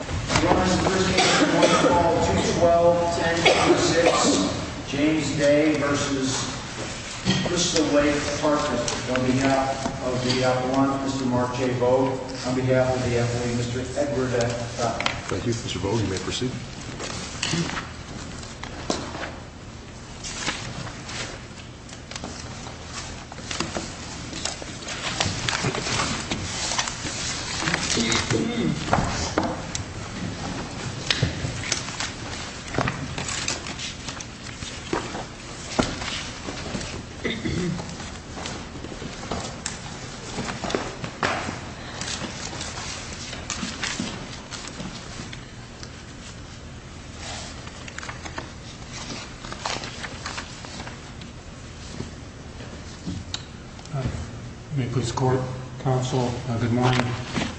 Your Honor, this case is going to call 2-12-10-26, James Day v. Crystal Lake Apartments. On behalf of the F1, Mr. Mark J. Vogt. On behalf of the F1, Mr. Edward F. Thompson. Thank you, Mr. Vogt. You may proceed. May it please the court, counsel, good morning.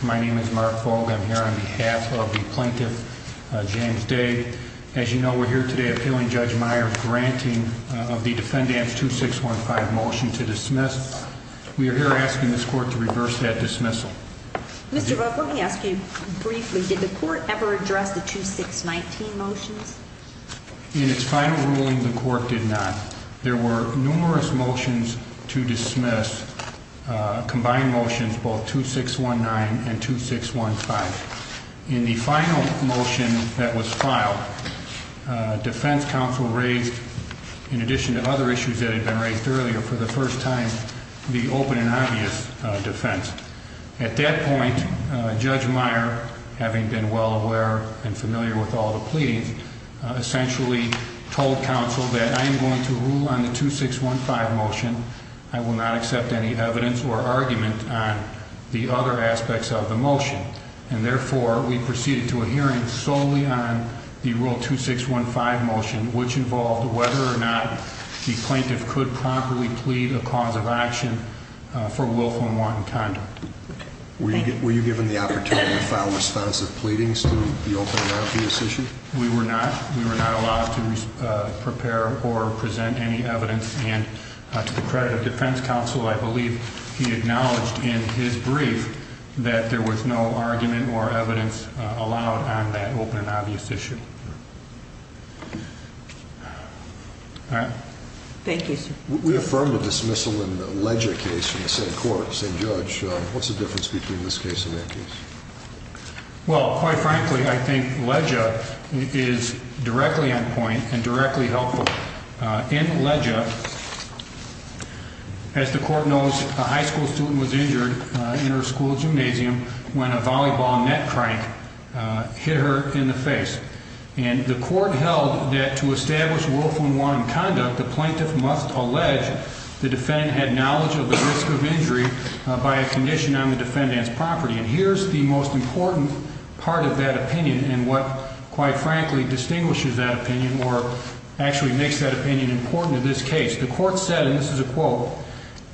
My name is Mark Vogt. I'm here on behalf of the plaintiff, James Day. As you know, we're here today appealing Judge Meyer's granting of the defendant's 2-6-1-5 motion to dismiss. We are here asking this court to reverse that dismissal. Mr. Vogt, let me ask you briefly, did the court ever address the 2-6-19 motions? In its final ruling, the court did not. There were numerous motions to dismiss, combined motions, both 2-6-1-9 and 2-6-1-5. In the final motion that was filed, defense counsel raised, in addition to other issues that had been raised earlier, for the first time, the open and obvious defense. At that point, Judge Meyer, having been well aware and familiar with all the pleadings, essentially told counsel that I am going to rule on the 2-6-1-5 motion. I will not accept any evidence or argument on the other aspects of the motion. And therefore, we proceeded to a hearing solely on the Rule 2-6-1-5 motion, which involved whether or not the plaintiff could properly plead a cause of action for willful and wanton conduct. Were you given the opportunity to file responsive pleadings to the open and obvious issue? We were not. We were not allowed to prepare or present any evidence. And to the credit of defense counsel, I believe he acknowledged in his brief that there was no argument or evidence allowed on that open and obvious issue. All right. Thank you, sir. We affirmed a dismissal in the Ledger case in the same court, same judge. What's the difference between this case and that case? Well, quite frankly, I think Ledger is directly on point and directly helpful. In Ledger, as the court knows, a high school student was injured in her school gymnasium when a volleyball net crank hit her in the face. And the court held that to establish willful and wanton conduct, the plaintiff must allege the defendant had knowledge of the risk of injury by a condition on the defendant's property. And here's the most important part of that opinion and what, quite frankly, distinguishes that opinion or actually makes that opinion important in this case. The court said, and this is a quote,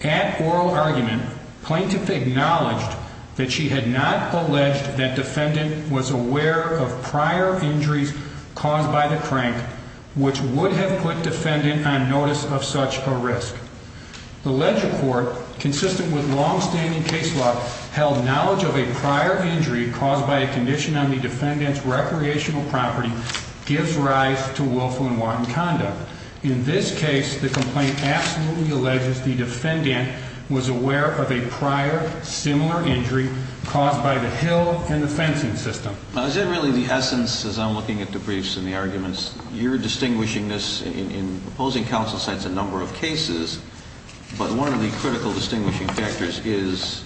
at oral argument, plaintiff acknowledged that she had not alleged that defendant was aware of prior injuries caused by the crank, which would have put defendant on notice of such a risk. The Ledger court, consistent with longstanding case law, held knowledge of a prior injury caused by a condition on the defendant's recreational property gives rise to willful and wanton conduct. In this case, the complaint absolutely alleges the defendant was aware of a prior similar injury caused by the hill and the fencing system. Is that really the essence as I'm looking at the briefs and the arguments? You're distinguishing this, in opposing counsel's sense, a number of cases, but one of the critical distinguishing factors is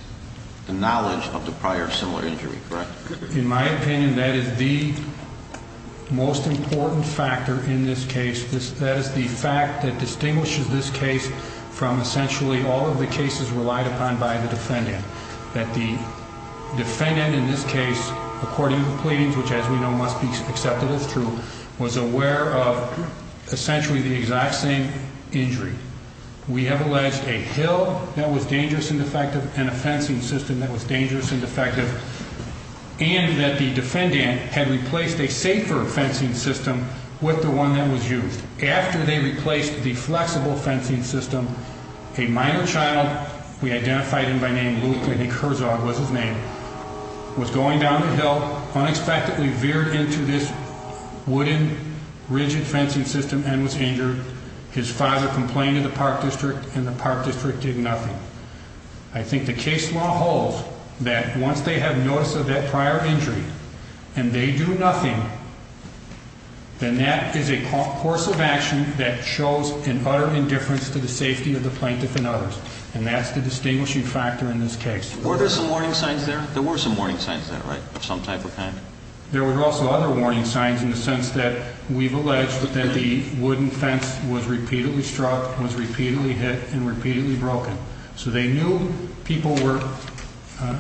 the knowledge of the prior similar injury, correct? In my opinion, that is the most important factor in this case. That is the fact that distinguishes this case from essentially all of the cases relied upon by the defendant, that the defendant in this case, according to the pleadings, which as we know must be accepted as true, was aware of essentially the exact same injury. We have alleged a hill that was dangerous and defective and a fencing system that was dangerous and defective, and that the defendant had replaced a safer fencing system with the one that was used. After they replaced the flexible fencing system, a minor child, we identified him by name Luke, I think Herzog was his name, was going down the hill, unexpectedly veered into this wooden rigid fencing system and was injured. His father complained to the park district and the park district did nothing. I think the case law holds that once they have notice of that prior injury and they do nothing, then that is a course of action that shows an utter indifference to the safety of the plaintiff and others, and that's the distinguishing factor in this case. Were there some warning signs there? There were some warning signs there, right, of some type or kind? There were also other warning signs in the sense that we've alleged that the wooden fence was repeatedly struck, was repeatedly hit, and repeatedly broken. So they knew people were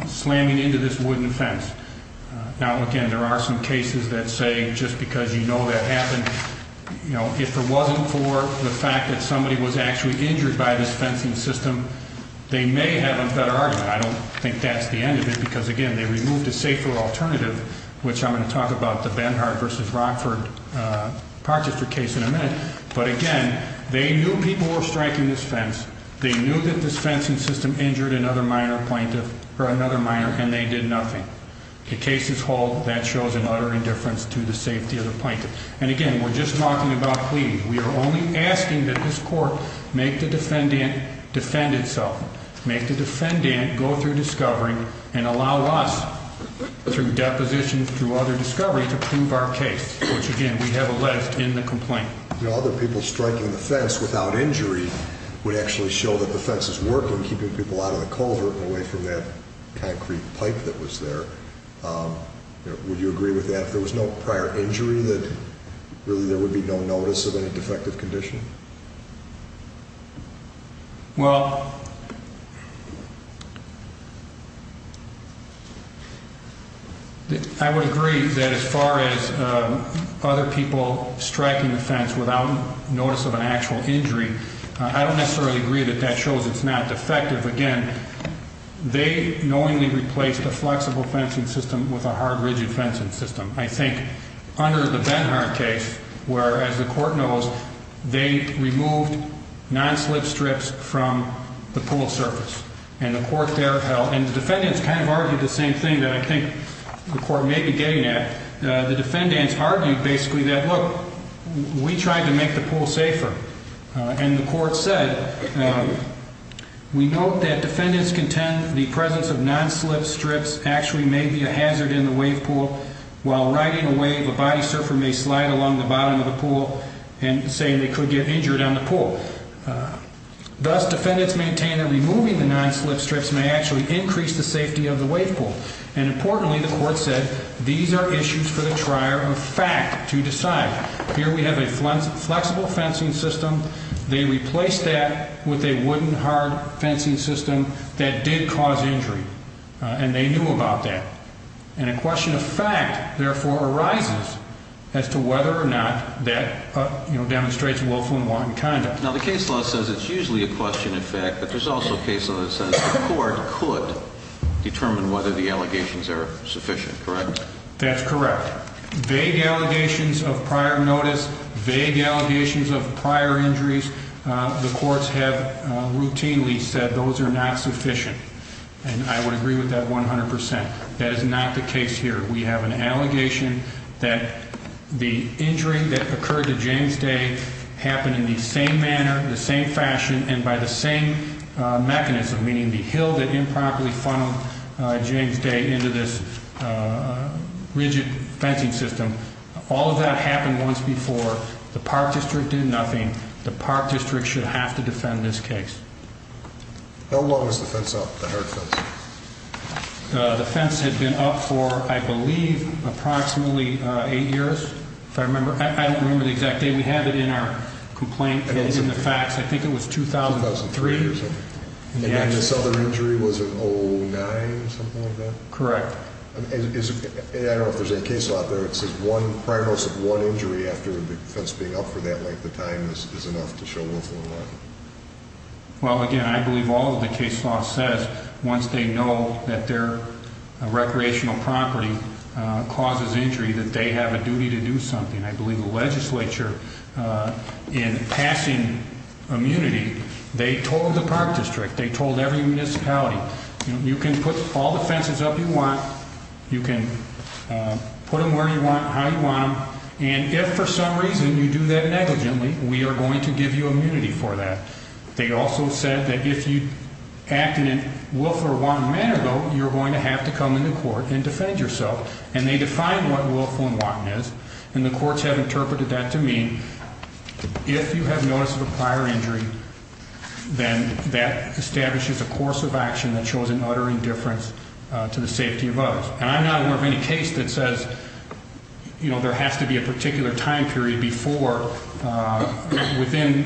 slamming into this wooden fence. Now, again, there are some cases that say just because you know that happened, if it wasn't for the fact that somebody was actually injured by this fencing system, they may have a better argument. I don't think that's the end of it because, again, they removed a safer alternative, which I'm going to talk about, the Benhart v. Rockford Park District case in a minute. But, again, they knew people were striking this fence. They knew that this fencing system injured another minor and they did nothing. The case is whole. That shows an utter indifference to the safety of the plaintiff. And, again, we're just talking about plea. We are only asking that this court make the defendant defend itself, make the defendant go through discovery and allow us, through depositions, through other discovery to prove our case, which, again, we have alleged in the complaint. Other people striking the fence without injury would actually show that the fence is working, keeping people out of the culvert and away from that concrete pipe that was there. Would you agree with that? If there was no prior injury, that really there would be no notice of any defective condition? Well, I would agree that as far as other people striking the fence without notice of an actual injury, I don't necessarily agree that that shows it's not defective. Again, they knowingly replaced a flexible fencing system with a hard, rigid fencing system. I think under the Benhart case where, as the court knows, they removed non-slip strips from the pool surface. And the court there held, and the defendants kind of argued the same thing that I think the court may be getting at. The defendants argued basically that, look, we tried to make the pool safer. And the court said, we note that defendants contend the presence of non-slip strips actually may be a hazard in the wave pool. While riding a wave, a body surfer may slide along the bottom of the pool and say they could get injured on the pool. Thus, defendants maintain that removing the non-slip strips may actually increase the safety of the wave pool. And importantly, the court said, these are issues for the trier of fact to decide. Here we have a flexible fencing system. They replaced that with a wooden, hard fencing system that did cause injury. And they knew about that. And a question of fact, therefore, arises as to whether or not that demonstrates willful and wanton conduct. Now, the case law says it's usually a question of fact, but there's also a case law that says the court could determine whether the allegations are sufficient, correct? That's correct. Vague allegations of prior notice, vague allegations of prior injuries, the courts have routinely said those are not sufficient. And I would agree with that 100%. That is not the case here. We have an allegation that the injury that occurred to James Day happened in the same manner, the same fashion, and by the same mechanism, meaning the hill that improperly funneled James Day into this rigid fencing system. All of that happened once before. The Park District did nothing. The Park District should have to defend this case. How long was the fence up, the hard fence? The fence had been up for, I believe, approximately eight years, if I remember. I don't remember the exact date. We have it in our complaint in the facts. I think it was 2003 or something. And then this other injury was in 09, something like that? Correct. I don't know if there's any case law out there that says one prior notice of one injury after the fence being up for that length of time is enough to show willful and wanton. Well, again, I believe all of the case law says once they know that their recreational property causes injury that they have a duty to do something. I believe the legislature, in passing immunity, they told the Park District, they told every municipality, you can put all the fences up you want. You can put them where you want, how you want them. And if for some reason you do that negligently, we are going to give you immunity for that. They also said that if you acted in a willful or wanton manner, though, you're going to have to come into court and defend yourself. And they define what willful and wanton is. And the courts have interpreted that to mean if you have notice of a prior injury, then that establishes a course of action that shows an utter indifference to the safety of others. And I'm not aware of any case that says, you know, there has to be a particular time period before within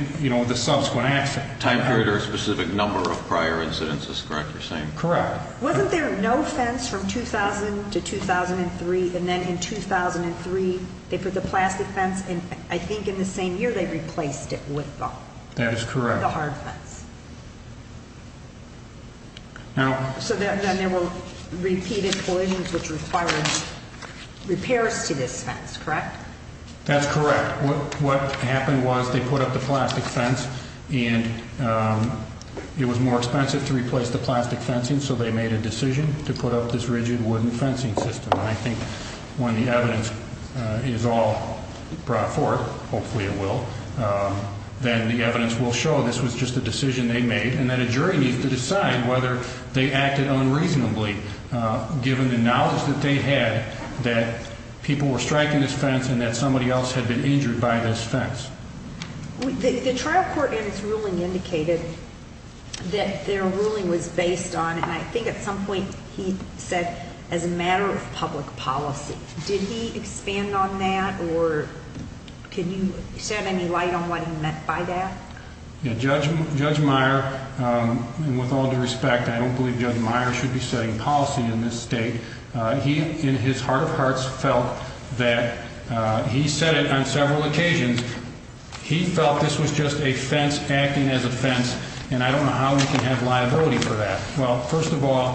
the subsequent action. Time period or a specific number of prior incidents is correct, you're saying? Correct. Wasn't there no fence from 2000 to 2003? And then in 2003, they put the plastic fence and I think in the same year they replaced it with bone. That is correct. The hard fence. So then there were repeated collisions which required repairs to this fence, correct? That's correct. What happened was they put up the plastic fence and it was more expensive to replace the plastic fencing. So they made a decision to put up this rigid wooden fencing system. And I think when the evidence is all brought forth, hopefully it will, then the evidence will show this was just a decision they made and that a jury needs to decide whether they acted unreasonably given the knowledge that they had that people were striking this fence and that somebody else had been injured by this fence. The trial court in its ruling indicated that their ruling was based on, and I think at some point he said, as a matter of public policy. Did he expand on that or can you shed any light on what he meant by that? Judge Meyer, with all due respect, I don't believe Judge Meyer should be setting policy in this state. He, in his heart of hearts, felt that he said it on several occasions. He felt this was just a fence acting as a fence. And I don't know how we can have liability for that. Well, first of all,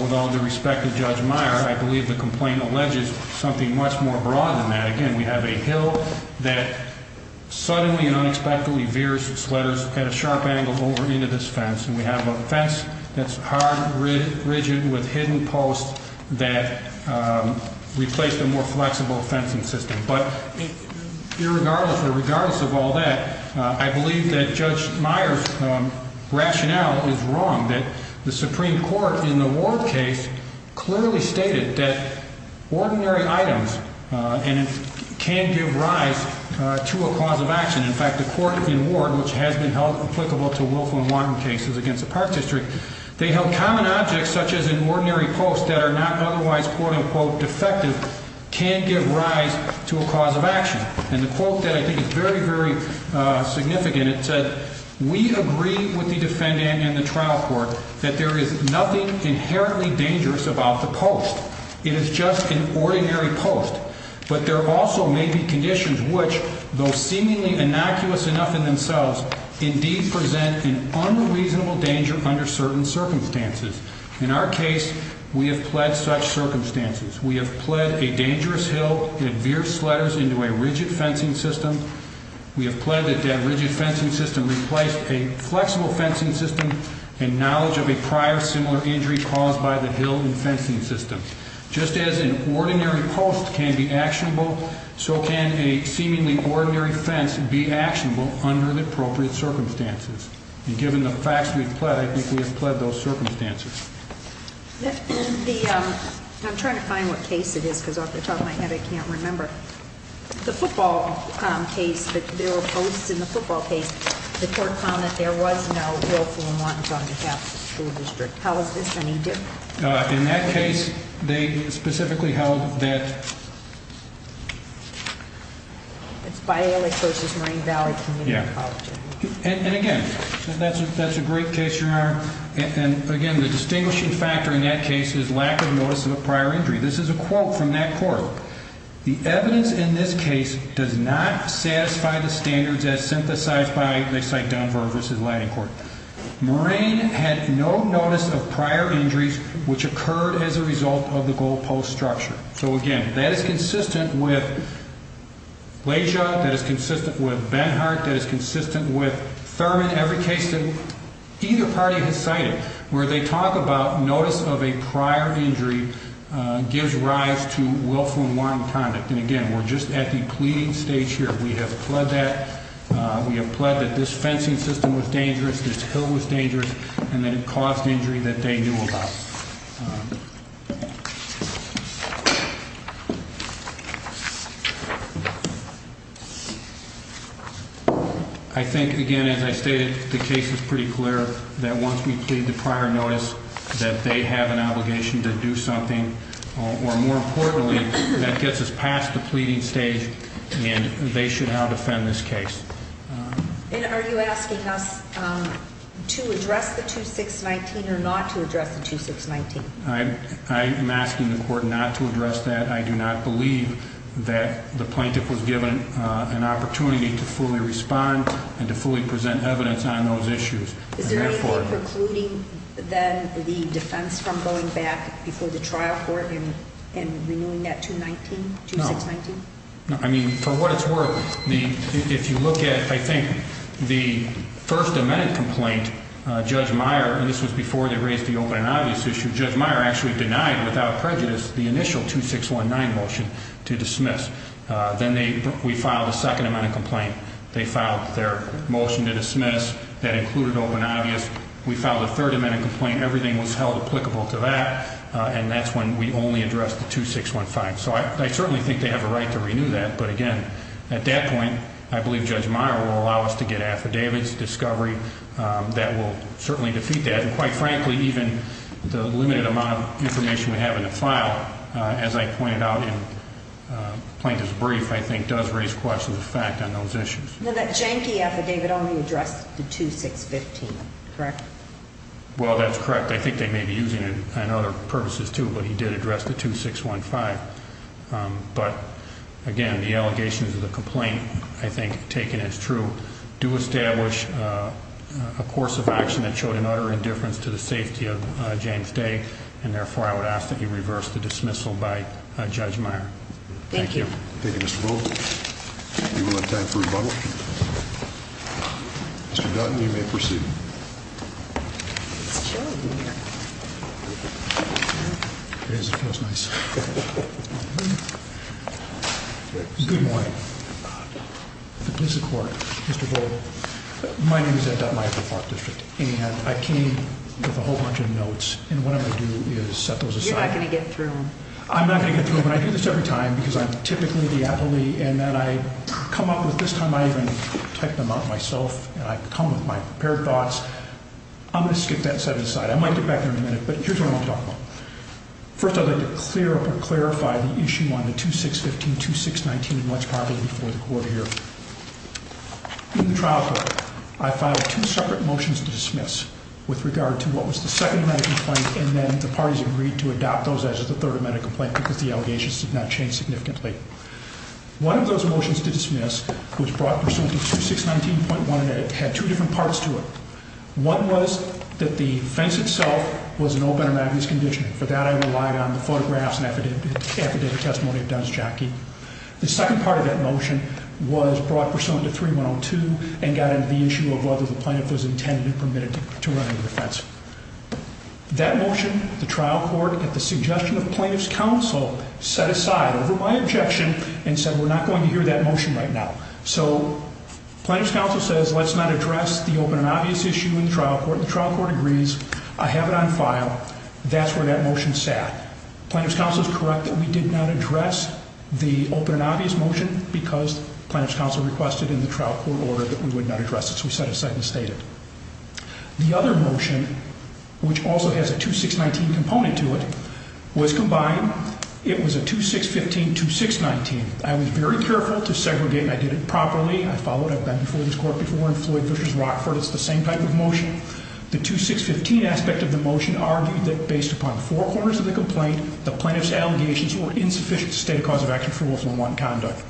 with all due respect to Judge Meyer, I believe the complaint alleges something much more broad than that. Again, we have a hill that suddenly and unexpectedly veers sweaters at a sharp angle over into this fence, and we have a fence that's hard, rigid with hidden posts that replace the more flexible fencing system. But regardless of all that, I believe that Judge Meyer's rationale is wrong, that the Supreme Court in the Ward case clearly stated that ordinary items can give rise to a cause of action. And the quote that I think is very, very significant, it said, we agree with the defendant and the trial court that there is nothing inherently dangerous about the post. It is just an ordinary post. But there also may be conditions which, though seemingly innocuous enough in themselves, indeed present an unreasonable danger under certain circumstances. In our case, we have pled such circumstances. We have pled a dangerous hill that veers sweaters into a rigid fencing system. We have pled that that rigid fencing system replace a flexible fencing system in knowledge of a prior similar injury caused by the hill and fencing system. Just as an ordinary post can be actionable, so can a seemingly ordinary fence be actionable under the appropriate circumstances. And given the facts we've pled, I think we have pled those circumstances. I'm trying to find what case it is because off the top of my head, I can't remember. The football case, but there were posts in the football case. The court found that there was no willful and wanton conduct in the school district. How is this any different? In that case, they specifically held that... It's Bialeck versus Marine Valley Community College. And, again, that's a great case, Your Honor. And, again, the distinguishing factor in that case is lack of notice of a prior injury. This is a quote from that court. The evidence in this case does not satisfy the standards as synthesized by... They cite Dunn-Virg versus Latting Court. Marine had no notice of prior injuries which occurred as a result of the goal post structure. So, again, that is consistent with Blasio. That is consistent with Benhart. That is consistent with Thurman. Every case that either party has cited where they talk about notice of a prior injury gives rise to willful and wanton conduct. And, again, we're just at the pleading stage here. We have pled that. We have pled that this fencing system was dangerous, this hill was dangerous, and that it caused injury that they knew about. I think, again, as I stated, the case is pretty clear that once we plead the prior notice that they have an obligation to do something, or, more importantly, that gets us past the pleading stage and they should now defend this case. And are you asking us to address the 2619 or not to address the 2619? I am asking the court not to address that. I do not believe that the plaintiff was given an opportunity to fully respond and to fully present evidence on those issues. Is there anything precluding, then, the defense from going back before the trial court and renewing that 219, 2619? No. I mean, for what it's worth, if you look at, I think, the First Amendment complaint, Judge Meyer, and this was before they raised the open and obvious issue, Judge Meyer actually denied, without prejudice, the initial 2619 motion to dismiss. Then we filed a Second Amendment complaint. They filed their motion to dismiss that included open and obvious. We filed a Third Amendment complaint. Everything was held applicable to that, and that's when we only addressed the 2615. So I certainly think they have a right to renew that. But, again, at that point, I believe Judge Meyer will allow us to get affidavits, discovery, that will certainly defeat that. And, quite frankly, even the limited amount of information we have in the file, as I pointed out in the plaintiff's brief, I think does raise questions of fact on those issues. That Janke affidavit only addressed the 2615, correct? Well, that's correct. I think they may be using it on other purposes, too, but he did address the 2615. But, again, the allegations of the complaint, I think, taken as true, do establish a course of action that showed an utter indifference to the safety of James Day, and, therefore, I would ask that he reverse the dismissal by Judge Meyer. Thank you. Thank you, Mr. Bowles. We will have time for rebuttal. Mr. Dutton, you may proceed. It's chilly in here. It is. It feels nice. Good morning. If it pleases the Court, Mr. Bowles, my name is Ed Dutton. I'm with the Park District, and I came with a whole bunch of notes, and what I'm going to do is set those aside. You're not going to get through them. I'm not going to get through them, and I do this every time because I'm typically the appellee, and then I come up with, this time I even typed them out myself, and I come with my prepared thoughts. I'm going to skip that and set it aside. I might get back there in a minute, but here's what I want to talk about. First, I'd like to clear up and clarify the issue on the 2615-2619, and what's probably before the Court here. In the trial court, I filed two separate motions to dismiss with regard to what was the second medical complaint, and then the parties agreed to adopt those as the third medical complaint because the allegations did not change significantly. One of those motions to dismiss was brought pursuant to 2619.1, and it had two different parts to it. One was that the offense itself was an open and obvious condition. For that, I relied on the photographs and affidavit testimony of Dennis Jockey. The second part of that motion was brought pursuant to 3102 and got into the issue of whether the plaintiff was intended and permitted to run into the fence. That motion, the trial court, at the suggestion of plaintiff's counsel, set aside, over my objection, and said we're not going to hear that motion right now. So plaintiff's counsel says let's not address the open and obvious issue in the trial court. The trial court agrees. I have it on file. That's where that motion sat. Plaintiff's counsel is correct that we did not address the open and obvious motion because plaintiff's counsel requested in the trial court order that we would not address it, so we set it aside and stated it. The other motion, which also has a 2619 component to it, was combined. It was a 2615-2619. I was very careful to segregate. I did it properly. I followed it. I've been before this court before in Floyd v. Rockford. It's the same type of motion. The 2615 aspect of the motion argued that based upon four corners of the complaint, the plaintiff's allegations were insufficient to state a cause of action for willful and want conduct.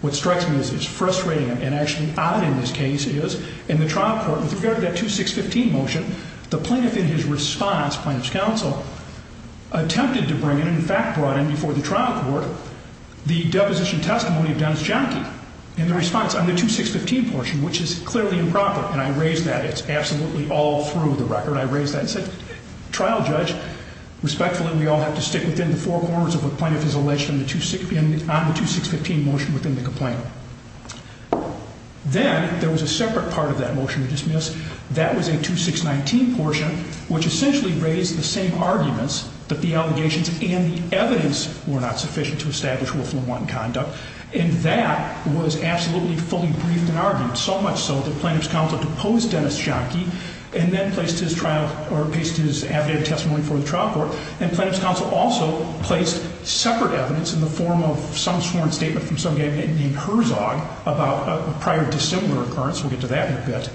What strikes me as frustrating and actually odd in this case is in the trial court, with regard to that 2615 motion, the plaintiff in his response, plaintiff's counsel, attempted to bring in, in fact brought in before the trial court, the deposition testimony of Dennis Jahnke in the response on the 2615 portion, which is clearly improper, and I raised that. It's absolutely all through the record. I raised that and said, trial judge, respectfully, we all have to stick within the four corners of what plaintiff has alleged on the 2615 motion within the complaint. That was a 2619 portion, which essentially raised the same arguments that the allegations and the evidence were not sufficient to establish willful and want conduct, and that was absolutely fully briefed and argued, so much so that plaintiff's counsel deposed Dennis Jahnke and then placed his trial or placed his affidavit testimony before the trial court, and plaintiff's counsel also placed separate evidence in the form of some sworn statement from some guy named Herzog about a prior dissimilar occurrence. We'll get to that in a bit.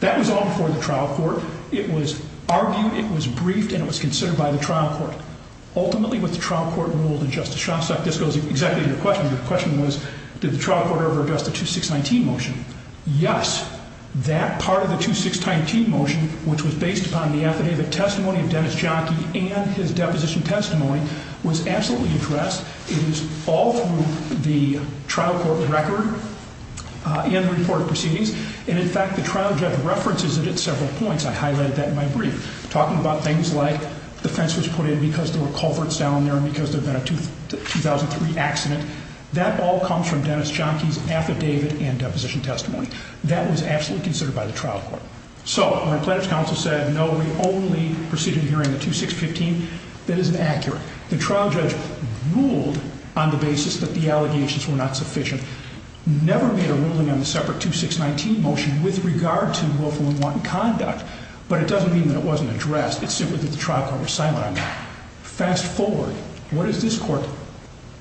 That was all before the trial court. It was argued, it was briefed, and it was considered by the trial court. Ultimately, what the trial court ruled in Justice Shostak, this goes exactly to your question. Your question was, did the trial court ever address the 2619 motion? Yes. That part of the 2619 motion, which was based upon the affidavit testimony of Dennis Jahnke and his deposition testimony, was absolutely addressed. It is all through the trial court record and the report of proceedings, and, in fact, the trial judge references it at several points. I highlighted that in my brief, talking about things like the fence was put in because there were culverts down there and because there had been a 2003 accident. That all comes from Dennis Jahnke's affidavit and deposition testimony. That was absolutely considered by the trial court. So when plaintiff's counsel said, no, we only proceeded here in the 2615, that isn't accurate. The trial judge ruled on the basis that the allegations were not sufficient, never made a ruling on the separate 2619 motion with regard to willful and wanton conduct, but it doesn't mean that it wasn't addressed. It's simply that the trial court was silent on that. Fast forward, what does this court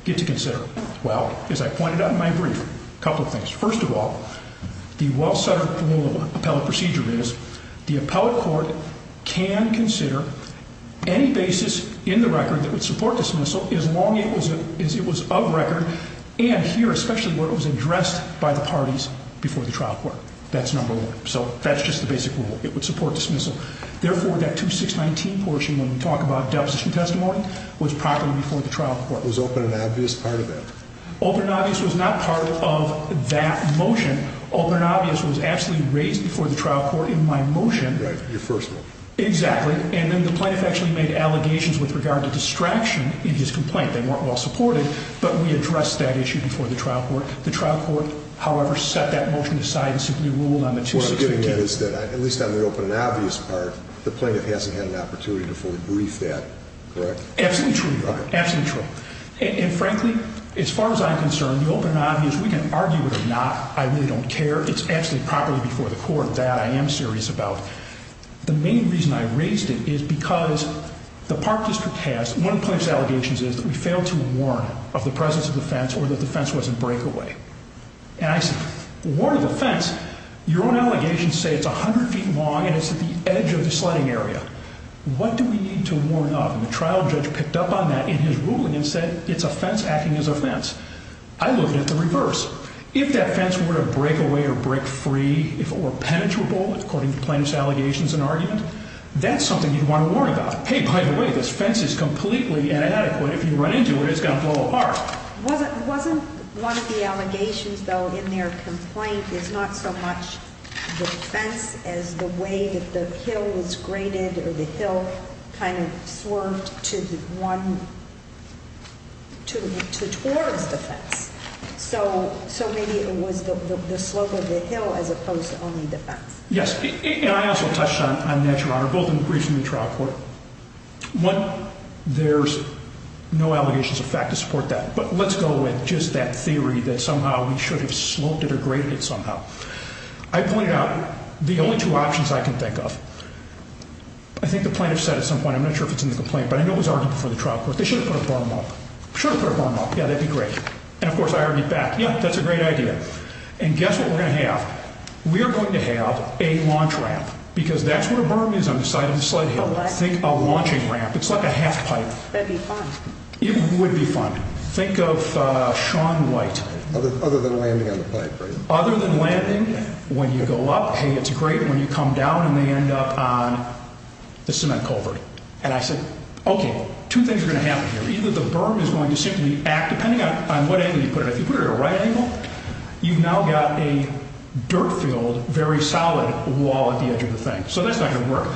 get to consider? Well, as I pointed out in my brief, a couple of things. First of all, the well-centered rule of appellate procedure is the appellate court can consider any basis in the record that would support dismissal as long as it was of record and here especially where it was addressed by the parties before the trial court. That's number one. So that's just the basic rule. It would support dismissal. Therefore, that 2619 portion when we talk about deposition testimony was properly before the trial court. Was open and obvious part of that? Open and obvious was not part of that motion. Open and obvious was absolutely raised before the trial court in my motion. Your first one. Exactly. And then the plaintiff actually made allegations with regard to distraction in his complaint. They weren't well supported, but we addressed that issue before the trial court. The trial court, however, set that motion aside and simply ruled on the 2619. What I'm getting at is that at least on the open and obvious part, the plaintiff hasn't had an opportunity to fully brief that, correct? Absolutely true, Your Honor. Absolutely true. And frankly, as far as I'm concerned, the open and obvious, we can argue it or not. I really don't care. It's actually properly before the court that I am serious about. The main reason I raised it is because the Park District has, one of the plaintiff's allegations is that we failed to warn of the presence of the fence or that the fence was a breakaway. And I said, warn of the fence? Your own allegations say it's 100 feet long and it's at the edge of the sledding area. What do we need to warn of? And the trial judge picked up on that in his ruling and said it's a fence acting as a fence. I looked at the reverse. If that fence were a breakaway or break free, if it were penetrable, according to the plaintiff's allegations and argument, that's something you'd want to warn about. Hey, by the way, this fence is completely inadequate. If you run into it, it's going to blow apart. Wasn't one of the allegations, though, in their complaint is not so much the fence as the way that the hill was graded or the hill kind of swerved towards the fence. So maybe it was the slope of the hill as opposed to only the fence. Yes, and I also touched on that, Your Honor, both in the briefing and the trial court. One, there's no allegations of fact to support that, but let's go with just that theory that somehow we should have sloped it or graded it somehow. I pointed out the only two options I can think of. I think the plaintiff said at some point, I'm not sure if it's in the complaint, but I know it was argued before the trial court, they should have put a berm up. Should have put a berm up. Yeah, that'd be great. And, of course, I argued back, yeah, that's a great idea. And guess what we're going to have? We are going to have a launch ramp because that's what a berm is on the side of the sled hill. Think a launching ramp. It's like a half pipe. That'd be fun. It would be fun. Think of Shaun White. Other than landing on the pipe, right? Other than landing, when you go up, hey, it's great. When you come down and they end up on the cement culvert. And I said, okay, two things are going to happen here. Either the berm is going to simply act, depending on what angle you put it. If you put it at a right angle, you've now got a dirt field, very solid wall at the edge of the thing. So that's not going to work.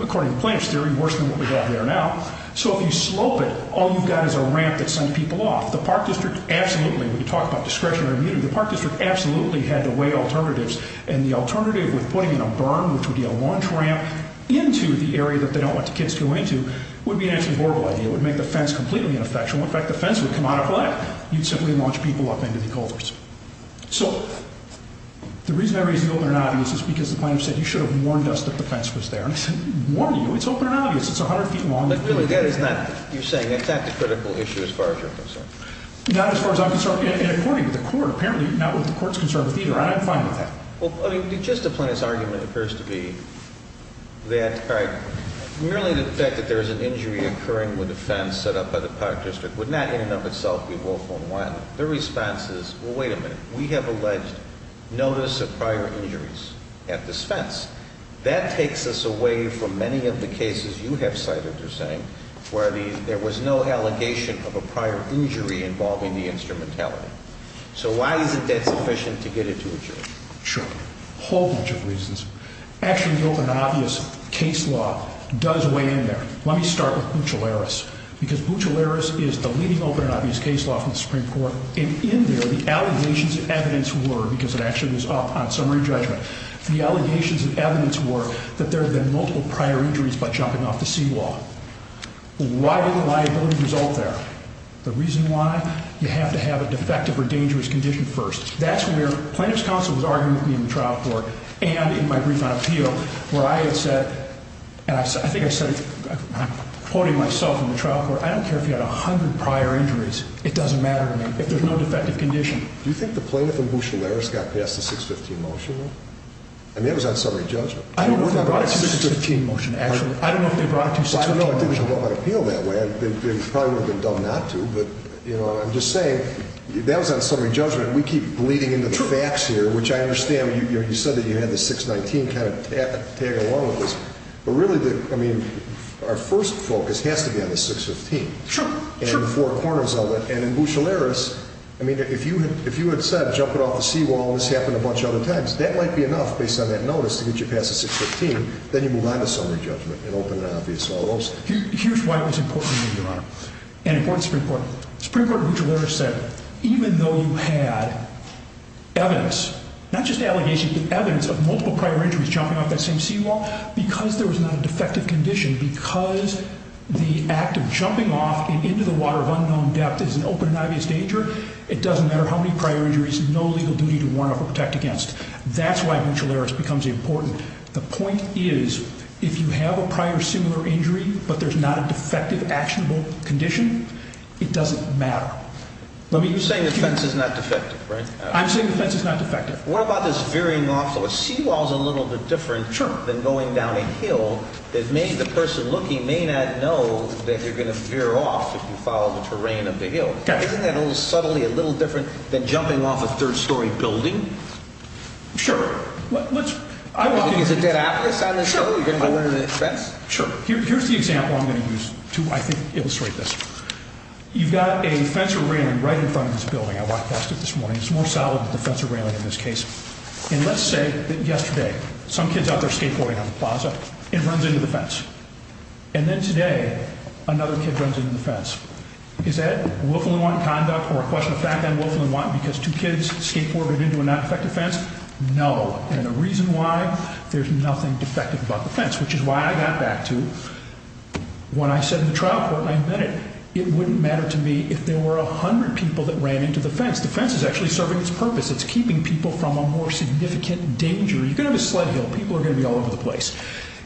According to the plaintiff's theory, worse than what we've got there now. So if you slope it, all you've got is a ramp that sends people off. The park district absolutely, when you talk about discretionary immunity, the park district absolutely had to weigh alternatives. And the alternative with putting in a berm, which would be a launch ramp, into the area that they don't let the kids go into, would be an actually horrible idea. It would make the fence completely ineffectual. In fact, the fence would come out of whack. You'd simply launch people up into the culverts. So the reason I raised the open and obvious is because the plaintiff said, you should have warned us that the fence was there. I said, warn you? It's open and obvious. It's 100 feet long. You're saying that's not the critical issue as far as you're concerned. Not as far as I'm concerned, and according to the court, apparently not what the court's concerned with either, and I'm fine with that. Just the plaintiff's argument appears to be that merely the fact that there is an injury occurring with a fence set up by the park district would not in and of itself be woeful and violent. Their response is, well, wait a minute. We have alleged notice of prior injuries at this fence. That takes us away from many of the cases you have cited, you're saying, where there was no allegation of a prior injury involving the instrumentality. So why isn't that sufficient to get it to a jury? Sure. A whole bunch of reasons. Actually, the open and obvious case law does weigh in there. Let me start with Buccellaris, because Buccellaris is the leading open and obvious case law from the Supreme Court, and in there, the allegations of evidence were, because it actually was up on summary judgment, the allegations of evidence were that there had been multiple prior injuries by jumping off the C law. Why did the liability result there? The reason why, you have to have a defective or dangerous condition first. That's where plaintiff's counsel was arguing with me in the trial court and in my brief on appeal, where I had said, and I think I said it, I'm quoting myself in the trial court, I don't care if you had 100 prior injuries, it doesn't matter to me if there's no defective condition. Do you think the plaintiff and Buccellaris got past the 615 motion, though? I mean, that was on summary judgment. I don't know if they brought it to the 615 motion, actually. I don't know if they brought it to 615. Well, I don't know if they brought my appeal that way. They probably would have been dumb not to, but, you know, I'm just saying, that was on summary judgment. We keep bleeding into the facts here, which I understand. You said that you had the 619 kind of tag along with this, but really, I mean, our first focus has to be on the 615. Sure, sure. And the four corners of it. And in Buccellaris, I mean, if you had said, jump it off the seawall, and this happened a bunch of other times, that might be enough, based on that notice, to get you past the 615. Then you move on to summary judgment and open and obvious all those. Here's why it was important to me, Your Honor. And it was pretty important. It was pretty important. Buccellaris said, even though you had evidence, not just allegations, but evidence of multiple prior injuries jumping off that same seawall, because there was not a defective condition, because the act of jumping off and into the water of unknown depth is an open and obvious danger, it doesn't matter how many prior injuries, no legal duty to warn of or protect against. That's why Buccellaris becomes important. The point is, if you have a prior similar injury, but there's not a defective actionable condition, it doesn't matter. You're saying the fence is not defective, right? I'm saying the fence is not defective. What about this veering off the seawall? The veering off the seawall is a little bit different than going down a hill. The person looking may not know that you're going to veer off if you follow the terrain of the hill. Isn't that subtly a little different than jumping off a third-story building? Sure. You're going to use a dead atlas on this? Sure. You're going to go under the fence? Sure. Here's the example I'm going to use to illustrate this. You've got a fence or railing right in front of this building. I walked past it this morning. It's more solid than the fence or railing in this case. And let's say that yesterday some kid's out there skateboarding on the plaza and runs into the fence. And then today another kid runs into the fence. Is that willful and want conduct or a question of fact and willful and want because two kids skateboarded into a non-defective fence? No. And the reason why, there's nothing defective about the fence, which is why I got back to when I said in the trial court, and I admit it, it wouldn't matter to me if there were 100 people that ran into the fence. The fence is actually serving its purpose. It's keeping people from a more significant danger. You could have a sled hill. People are going to be all over the place.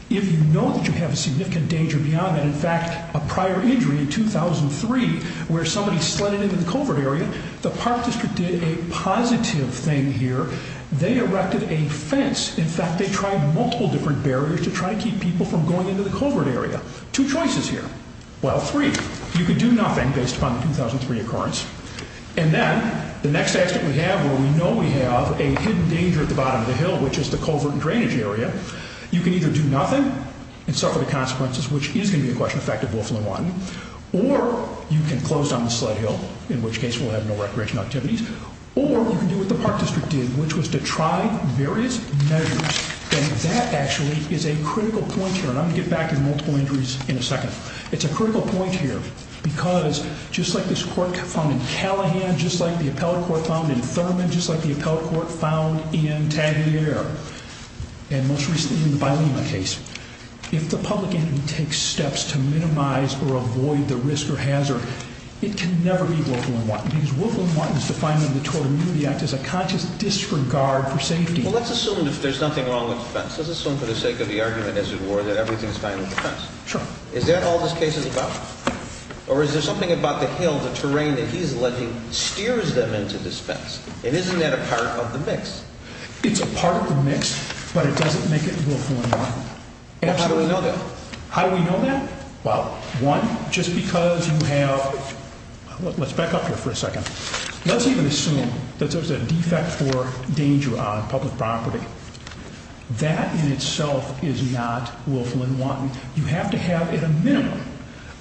If you know that you have a significant danger beyond that, in fact, a prior injury in 2003 where somebody slid into the covert area, the Park District did a positive thing here. They erected a fence. In fact, they tried multiple different barriers to try to keep people from going into the covert area. Two choices here. Well, three. You could do nothing based upon the 2003 occurrence. And then the next aspect we have where we know we have a hidden danger at the bottom of the hill, which is the covert and drainage area, you can either do nothing and suffer the consequences, which is going to be a question of fact and willful and want, or you can close down the sled hill, in which case we'll have no recreational activities, or you can do what the Park District did, which was to try various measures. And that actually is a critical point here, and I'm going to get back to multiple injuries in a second. It's a critical point here because just like this court found in Callahan, just like the appellate court found in Thurman, just like the appellate court found in Tagliere, and most recently in the Bilema case, if the public can take steps to minimize or avoid the risk or hazard, it can never be willful and want, because willful and want is defined in the Total Immunity Act as a conscious disregard for safety. Well, let's assume there's nothing wrong with the fence. Let's assume for the sake of the argument as it were that everything is fine with the fence. Sure. Is that all this case is about? Or is there something about the hill, the terrain that he's alleging steers them into this fence? And isn't that a part of the mix? It's a part of the mix, but it doesn't make it willful and want. How do we know that? How do we know that? Well, one, just because you have, let's back up here for a second. Let's even assume that there's a defect or danger on public property. That in itself is not willful and want. You have to have at a minimum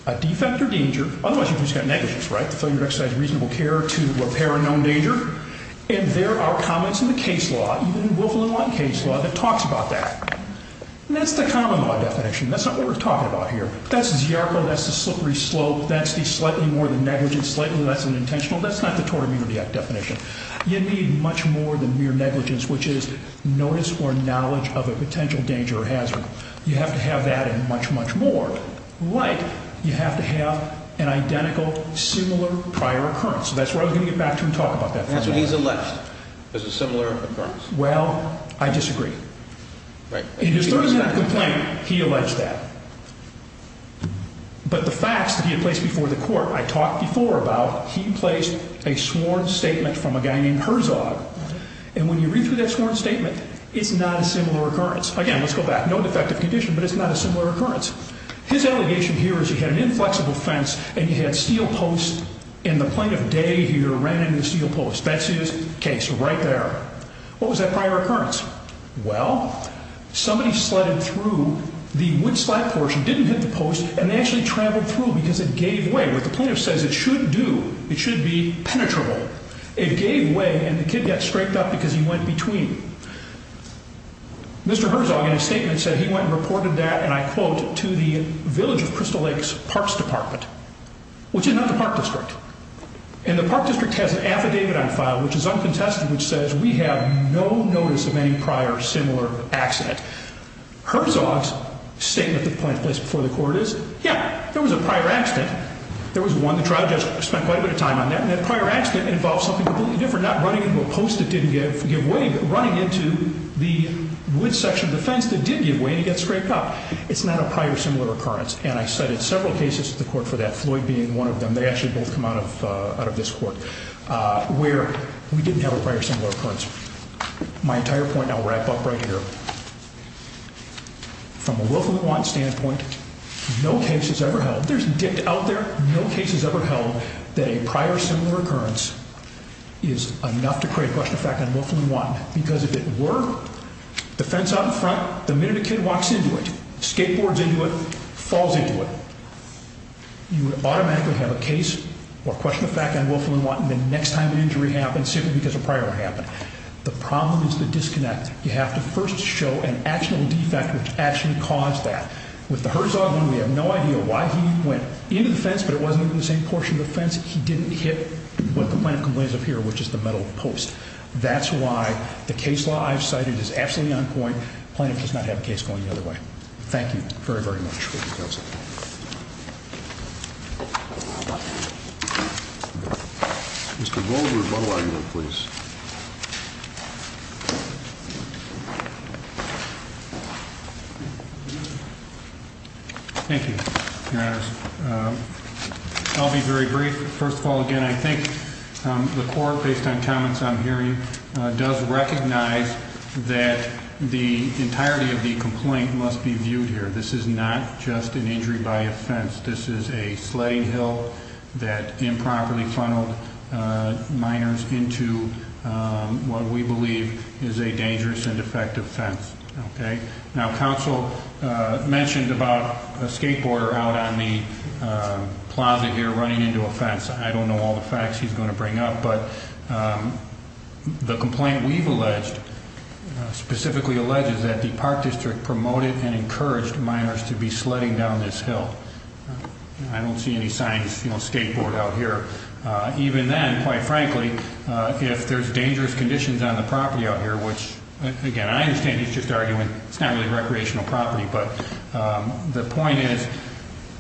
a defect or danger. Otherwise, you've just got negligence, right? Failure to exercise reasonable care to repair a known danger. And there are comments in the case law, even in willful and want case law, that talks about that. And that's the common law definition. That's not what we're talking about here. That's ziarko. That's the slippery slope. That's the slightly more than negligence, slightly less than intentional. That's not the Total Immunity Act definition. You need much more than mere negligence, which is notice or knowledge of a potential danger or hazard. You have to have that and much, much more. Like, you have to have an identical, similar prior occurrence. That's where I was going to get back to and talk about that. That's what he's alleged, is a similar occurrence. Well, I disagree. Right. In his third and final complaint, he alleged that. But the facts that he had placed before the court, I talked before about, he placed a sworn statement from a guy named Herzog. And when you read through that sworn statement, it's not a similar occurrence. Again, let's go back. No defective condition, but it's not a similar occurrence. His allegation here is he had an inflexible fence and he had steel posts. And the plaintiff, Day, here, ran into the steel posts. That's his case right there. What was that prior occurrence? Well, somebody sledded through the wood slab portion, didn't hit the post, and they actually traveled through because it gave way. What the plaintiff says it should do, it should be penetrable. It gave way, and the kid got scraped up because he went between. Mr. Herzog, in his statement, said he went and reported that, and I quote, to the Village of Crystal Lakes Parks Department, which is not the park district. And the park district has an affidavit on file, which is uncontested, which says we have no notice of any prior similar accident. Herzog's statement that the plaintiff placed before the court is, yeah, there was a prior accident. There was one. The trial judge spent quite a bit of time on that. And that prior accident involved something completely different, not running into a post that didn't give way, but running into the wood section of the fence that did give way and he got scraped up. It's not a prior similar occurrence. And I cited several cases to the court for that, Floyd being one of them. They actually both come out of this court, where we didn't have a prior similar occurrence. My entire point, I'll wrap up right here. From a willful and want standpoint, no case is ever held. There's dict out there. No case is ever held that a prior similar occurrence is enough to create question of fact and willful and want. Because if it were, the fence out in front, the minute a kid walks into it, skateboards into it, falls into it, you would automatically have a case or question of fact and willful and want the next time an injury happens simply because a prior one happened. The problem is the disconnect. You have to first show an actual defect which actually caused that. With the Herzog one, we have no idea why he went into the fence, but it wasn't even the same portion of the fence. He didn't hit what the plaintiff complains of here, which is the metal post. That's why the case law I've cited is absolutely on point. The plaintiff does not have a case going the other way. Thank you very, very much. Mr. Goldberg, model argument, please. Thank you. I'll be very brief. First of all, again, I think the court, based on comments I'm hearing, does recognize that the entirety of the complaint must be viewed here. This is not just an injury by offense. This is a sledding hill that improperly funneled minors into what we believe is a dangerous and defective fence. Now, counsel mentioned about a skateboarder out on the plaza here running into a fence. I don't know all the facts he's going to bring up, but the complaint we've alleged, specifically alleged, is that the park district promoted and encouraged minors to be sledding down this hill. I don't see any signs, you know, skateboard out here. Even then, quite frankly, if there's dangerous conditions on the property out here, which, again, I understand he's just arguing it's not really recreational property, but the point is,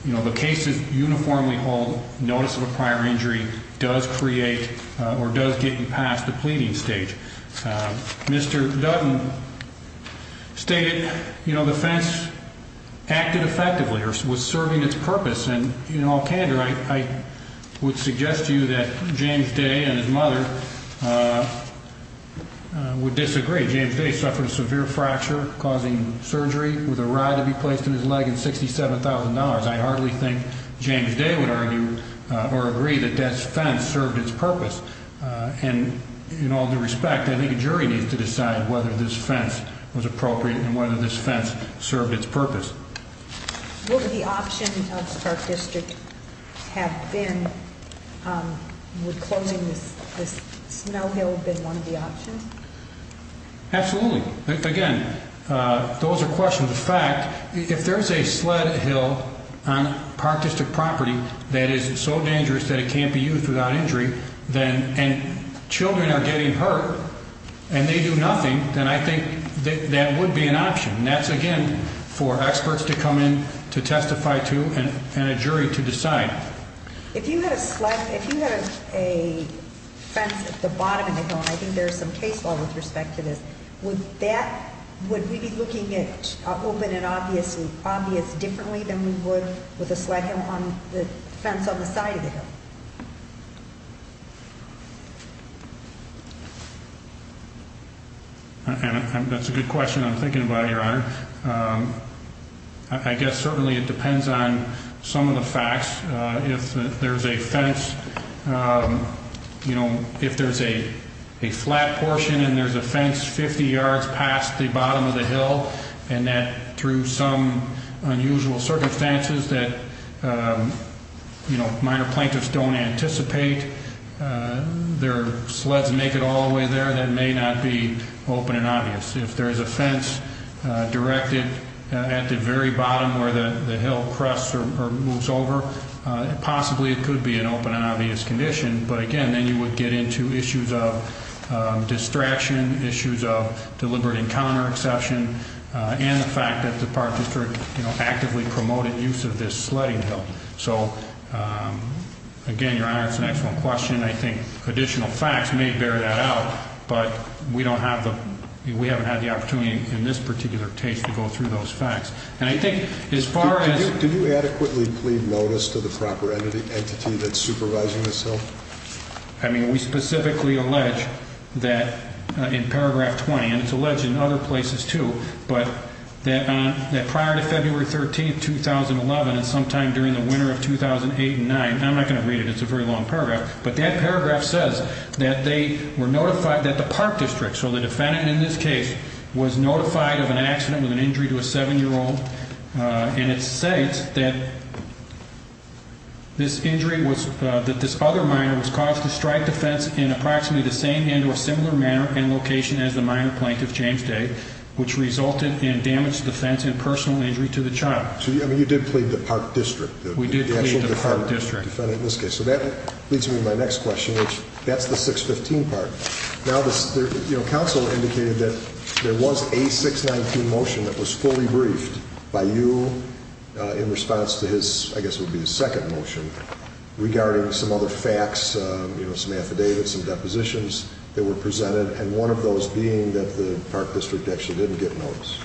you know, the cases uniformly hold notice of a prior injury does create or does get you past the pleading stage. Mr. Dutton stated, you know, the fence acted effectively or was serving its purpose. And in all candor, I would suggest to you that James Day and his mother would disagree. James Day suffered a severe fracture causing surgery with a rod to be placed in his leg and $67,000. I hardly think James Day would argue or agree that that fence served its purpose. And in all due respect, I think a jury needs to decide whether this fence was appropriate and whether this fence served its purpose. What would the option of the park district have been? Would closing this snow hill have been one of the options? Absolutely. Again, those are questions of fact. If there's a sled hill on park district property that is so dangerous that it can't be used without injury, and children are getting hurt and they do nothing, then I think that would be an option. And that's, again, for experts to come in to testify to and a jury to decide. If you had a fence at the bottom of the hill, and I think there's some case law with respect to this, would we be looking at open and obvious differently than we would with a sled hill on the fence on the side of the hill? That's a good question. I'm thinking about it, Your Honor. I guess certainly it depends on some of the facts. If there's a fence, you know, if there's a flat portion and there's a fence 50 yards past the bottom of the hill, and that through some unusual circumstances that, you know, minor plaintiffs don't anticipate, their sleds make it all the way there, that may not be open and obvious. If there's a fence directed at the very bottom where the hill crests or moves over, possibly it could be an open and obvious condition. But again, then you would get into issues of distraction, issues of deliberate encounter exception, and the fact that the park district actively promoted use of this sledding hill. So, again, Your Honor, it's an excellent question. I think additional facts may bear that out, but we don't have the – we haven't had the opportunity in this particular case to go through those facts. And I think as far as – Did you adequately plead notice to the proper entity that's supervising this hill? I mean, we specifically allege that in paragraph 20, and it's alleged in other places too, but that prior to February 13th, 2011 and sometime during the winter of 2008 and 2009 – I'm not going to read it, it's a very long paragraph – but that paragraph says that they were notified that the park district, so the defendant in this case, was notified of an accident with an injury to a 7-year-old, and it states that this injury was – that this other minor was caused to strike the fence in approximately the same hand or similar manner and location as the minor plaintiff, James Day, which resulted in damage to the fence and personal injury to the child. So you did plead the park district? We did plead the park district. So that leads me to my next question, which – that's the 615 part. Now, the council indicated that there was a 619 motion that was fully briefed by you in response to his – I guess it would be his second motion regarding some other facts, some affidavits, some depositions that were presented, and one of those being that the park district actually didn't get notice.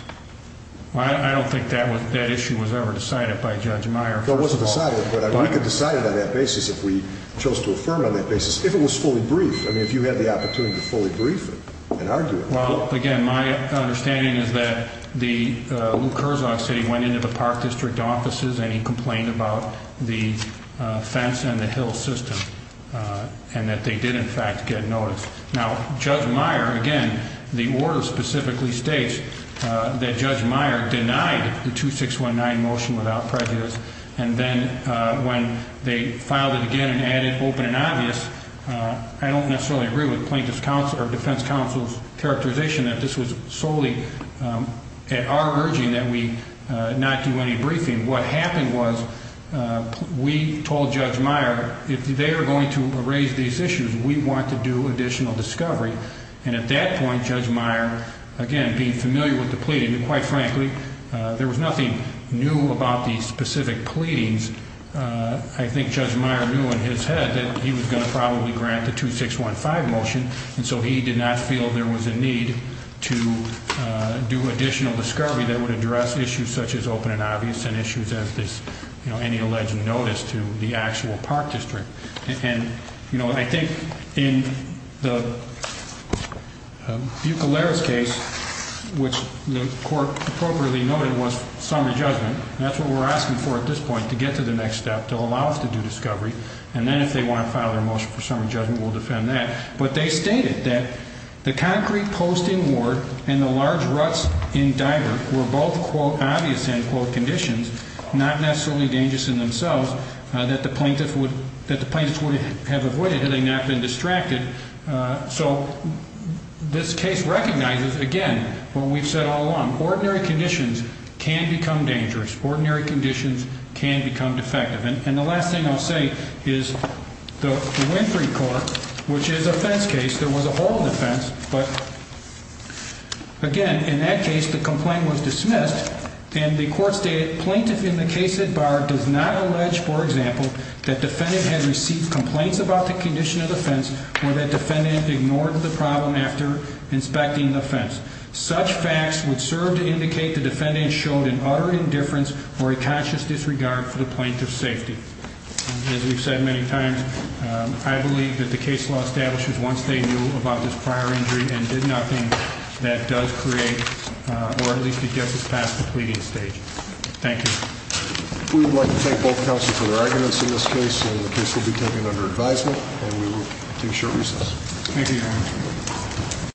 Well, I don't think that issue was ever decided by Judge Meyer, first of all. It wasn't decided, but we could decide it on that basis if we chose to affirm it on that basis, if it was fully briefed. I mean, if you had the opportunity to fully brief it and argue it. Well, again, my understanding is that Luke Herzog said he went into the park district offices and he complained about the fence and the hill system and that they did, in fact, get notice. Now, Judge Meyer, again, the order specifically states that Judge Meyer denied the 2619 motion without prejudice, and then when they filed it again and added open and obvious, I don't necessarily agree with plaintiff's counsel or defense counsel's characterization that this was solely at our urging that we not do any briefing. What happened was we told Judge Meyer, if they are going to raise these issues, we want to do additional discovery. And at that point, Judge Meyer, again, being familiar with the pleading, quite frankly, there was nothing new about these specific pleadings. I think Judge Meyer knew in his head that he was going to probably grant the 2615 motion, and so he did not feel there was a need to do additional discovery that would address issues such as open and obvious and issues as this, you know, any alleged notice to the actual park district. And, you know, I think in the Bucoleros case, which the court appropriately noted was summary judgment, that's what we're asking for at this point, to get to the next step, to allow us to do discovery, and then if they want to file their motion for summary judgment, we'll defend that. But they stated that the concrete post in Ward and the large ruts in Diver were both, quote, obvious and, quote, conditions, not necessarily dangerous in themselves, that the plaintiff would have avoided had they not been distracted. So this case recognizes, again, what we've said all along. Ordinary conditions can become dangerous. Ordinary conditions can become defective. And the last thing I'll say is the Winfrey court, which is a fence case, there was a hole in the fence, but, again, in that case, the complaint was dismissed, and the court stated, Plaintiff in the case at bar does not allege, for example, that defendant had received complaints about the condition of the fence or that defendant ignored the problem after inspecting the fence. Such facts would serve to indicate the defendant showed an utter indifference or a conscious disregard for the plaintiff's safety. As we've said many times, I believe that the case law establishes once they knew about this prior injury and did nothing, that does create, or at least it gets us past the pleading stage. Thank you. We would like to thank both counsel for their arguments in this case, and the case will be taken under advisement, and we will take short recess. Thank you, Your Honor.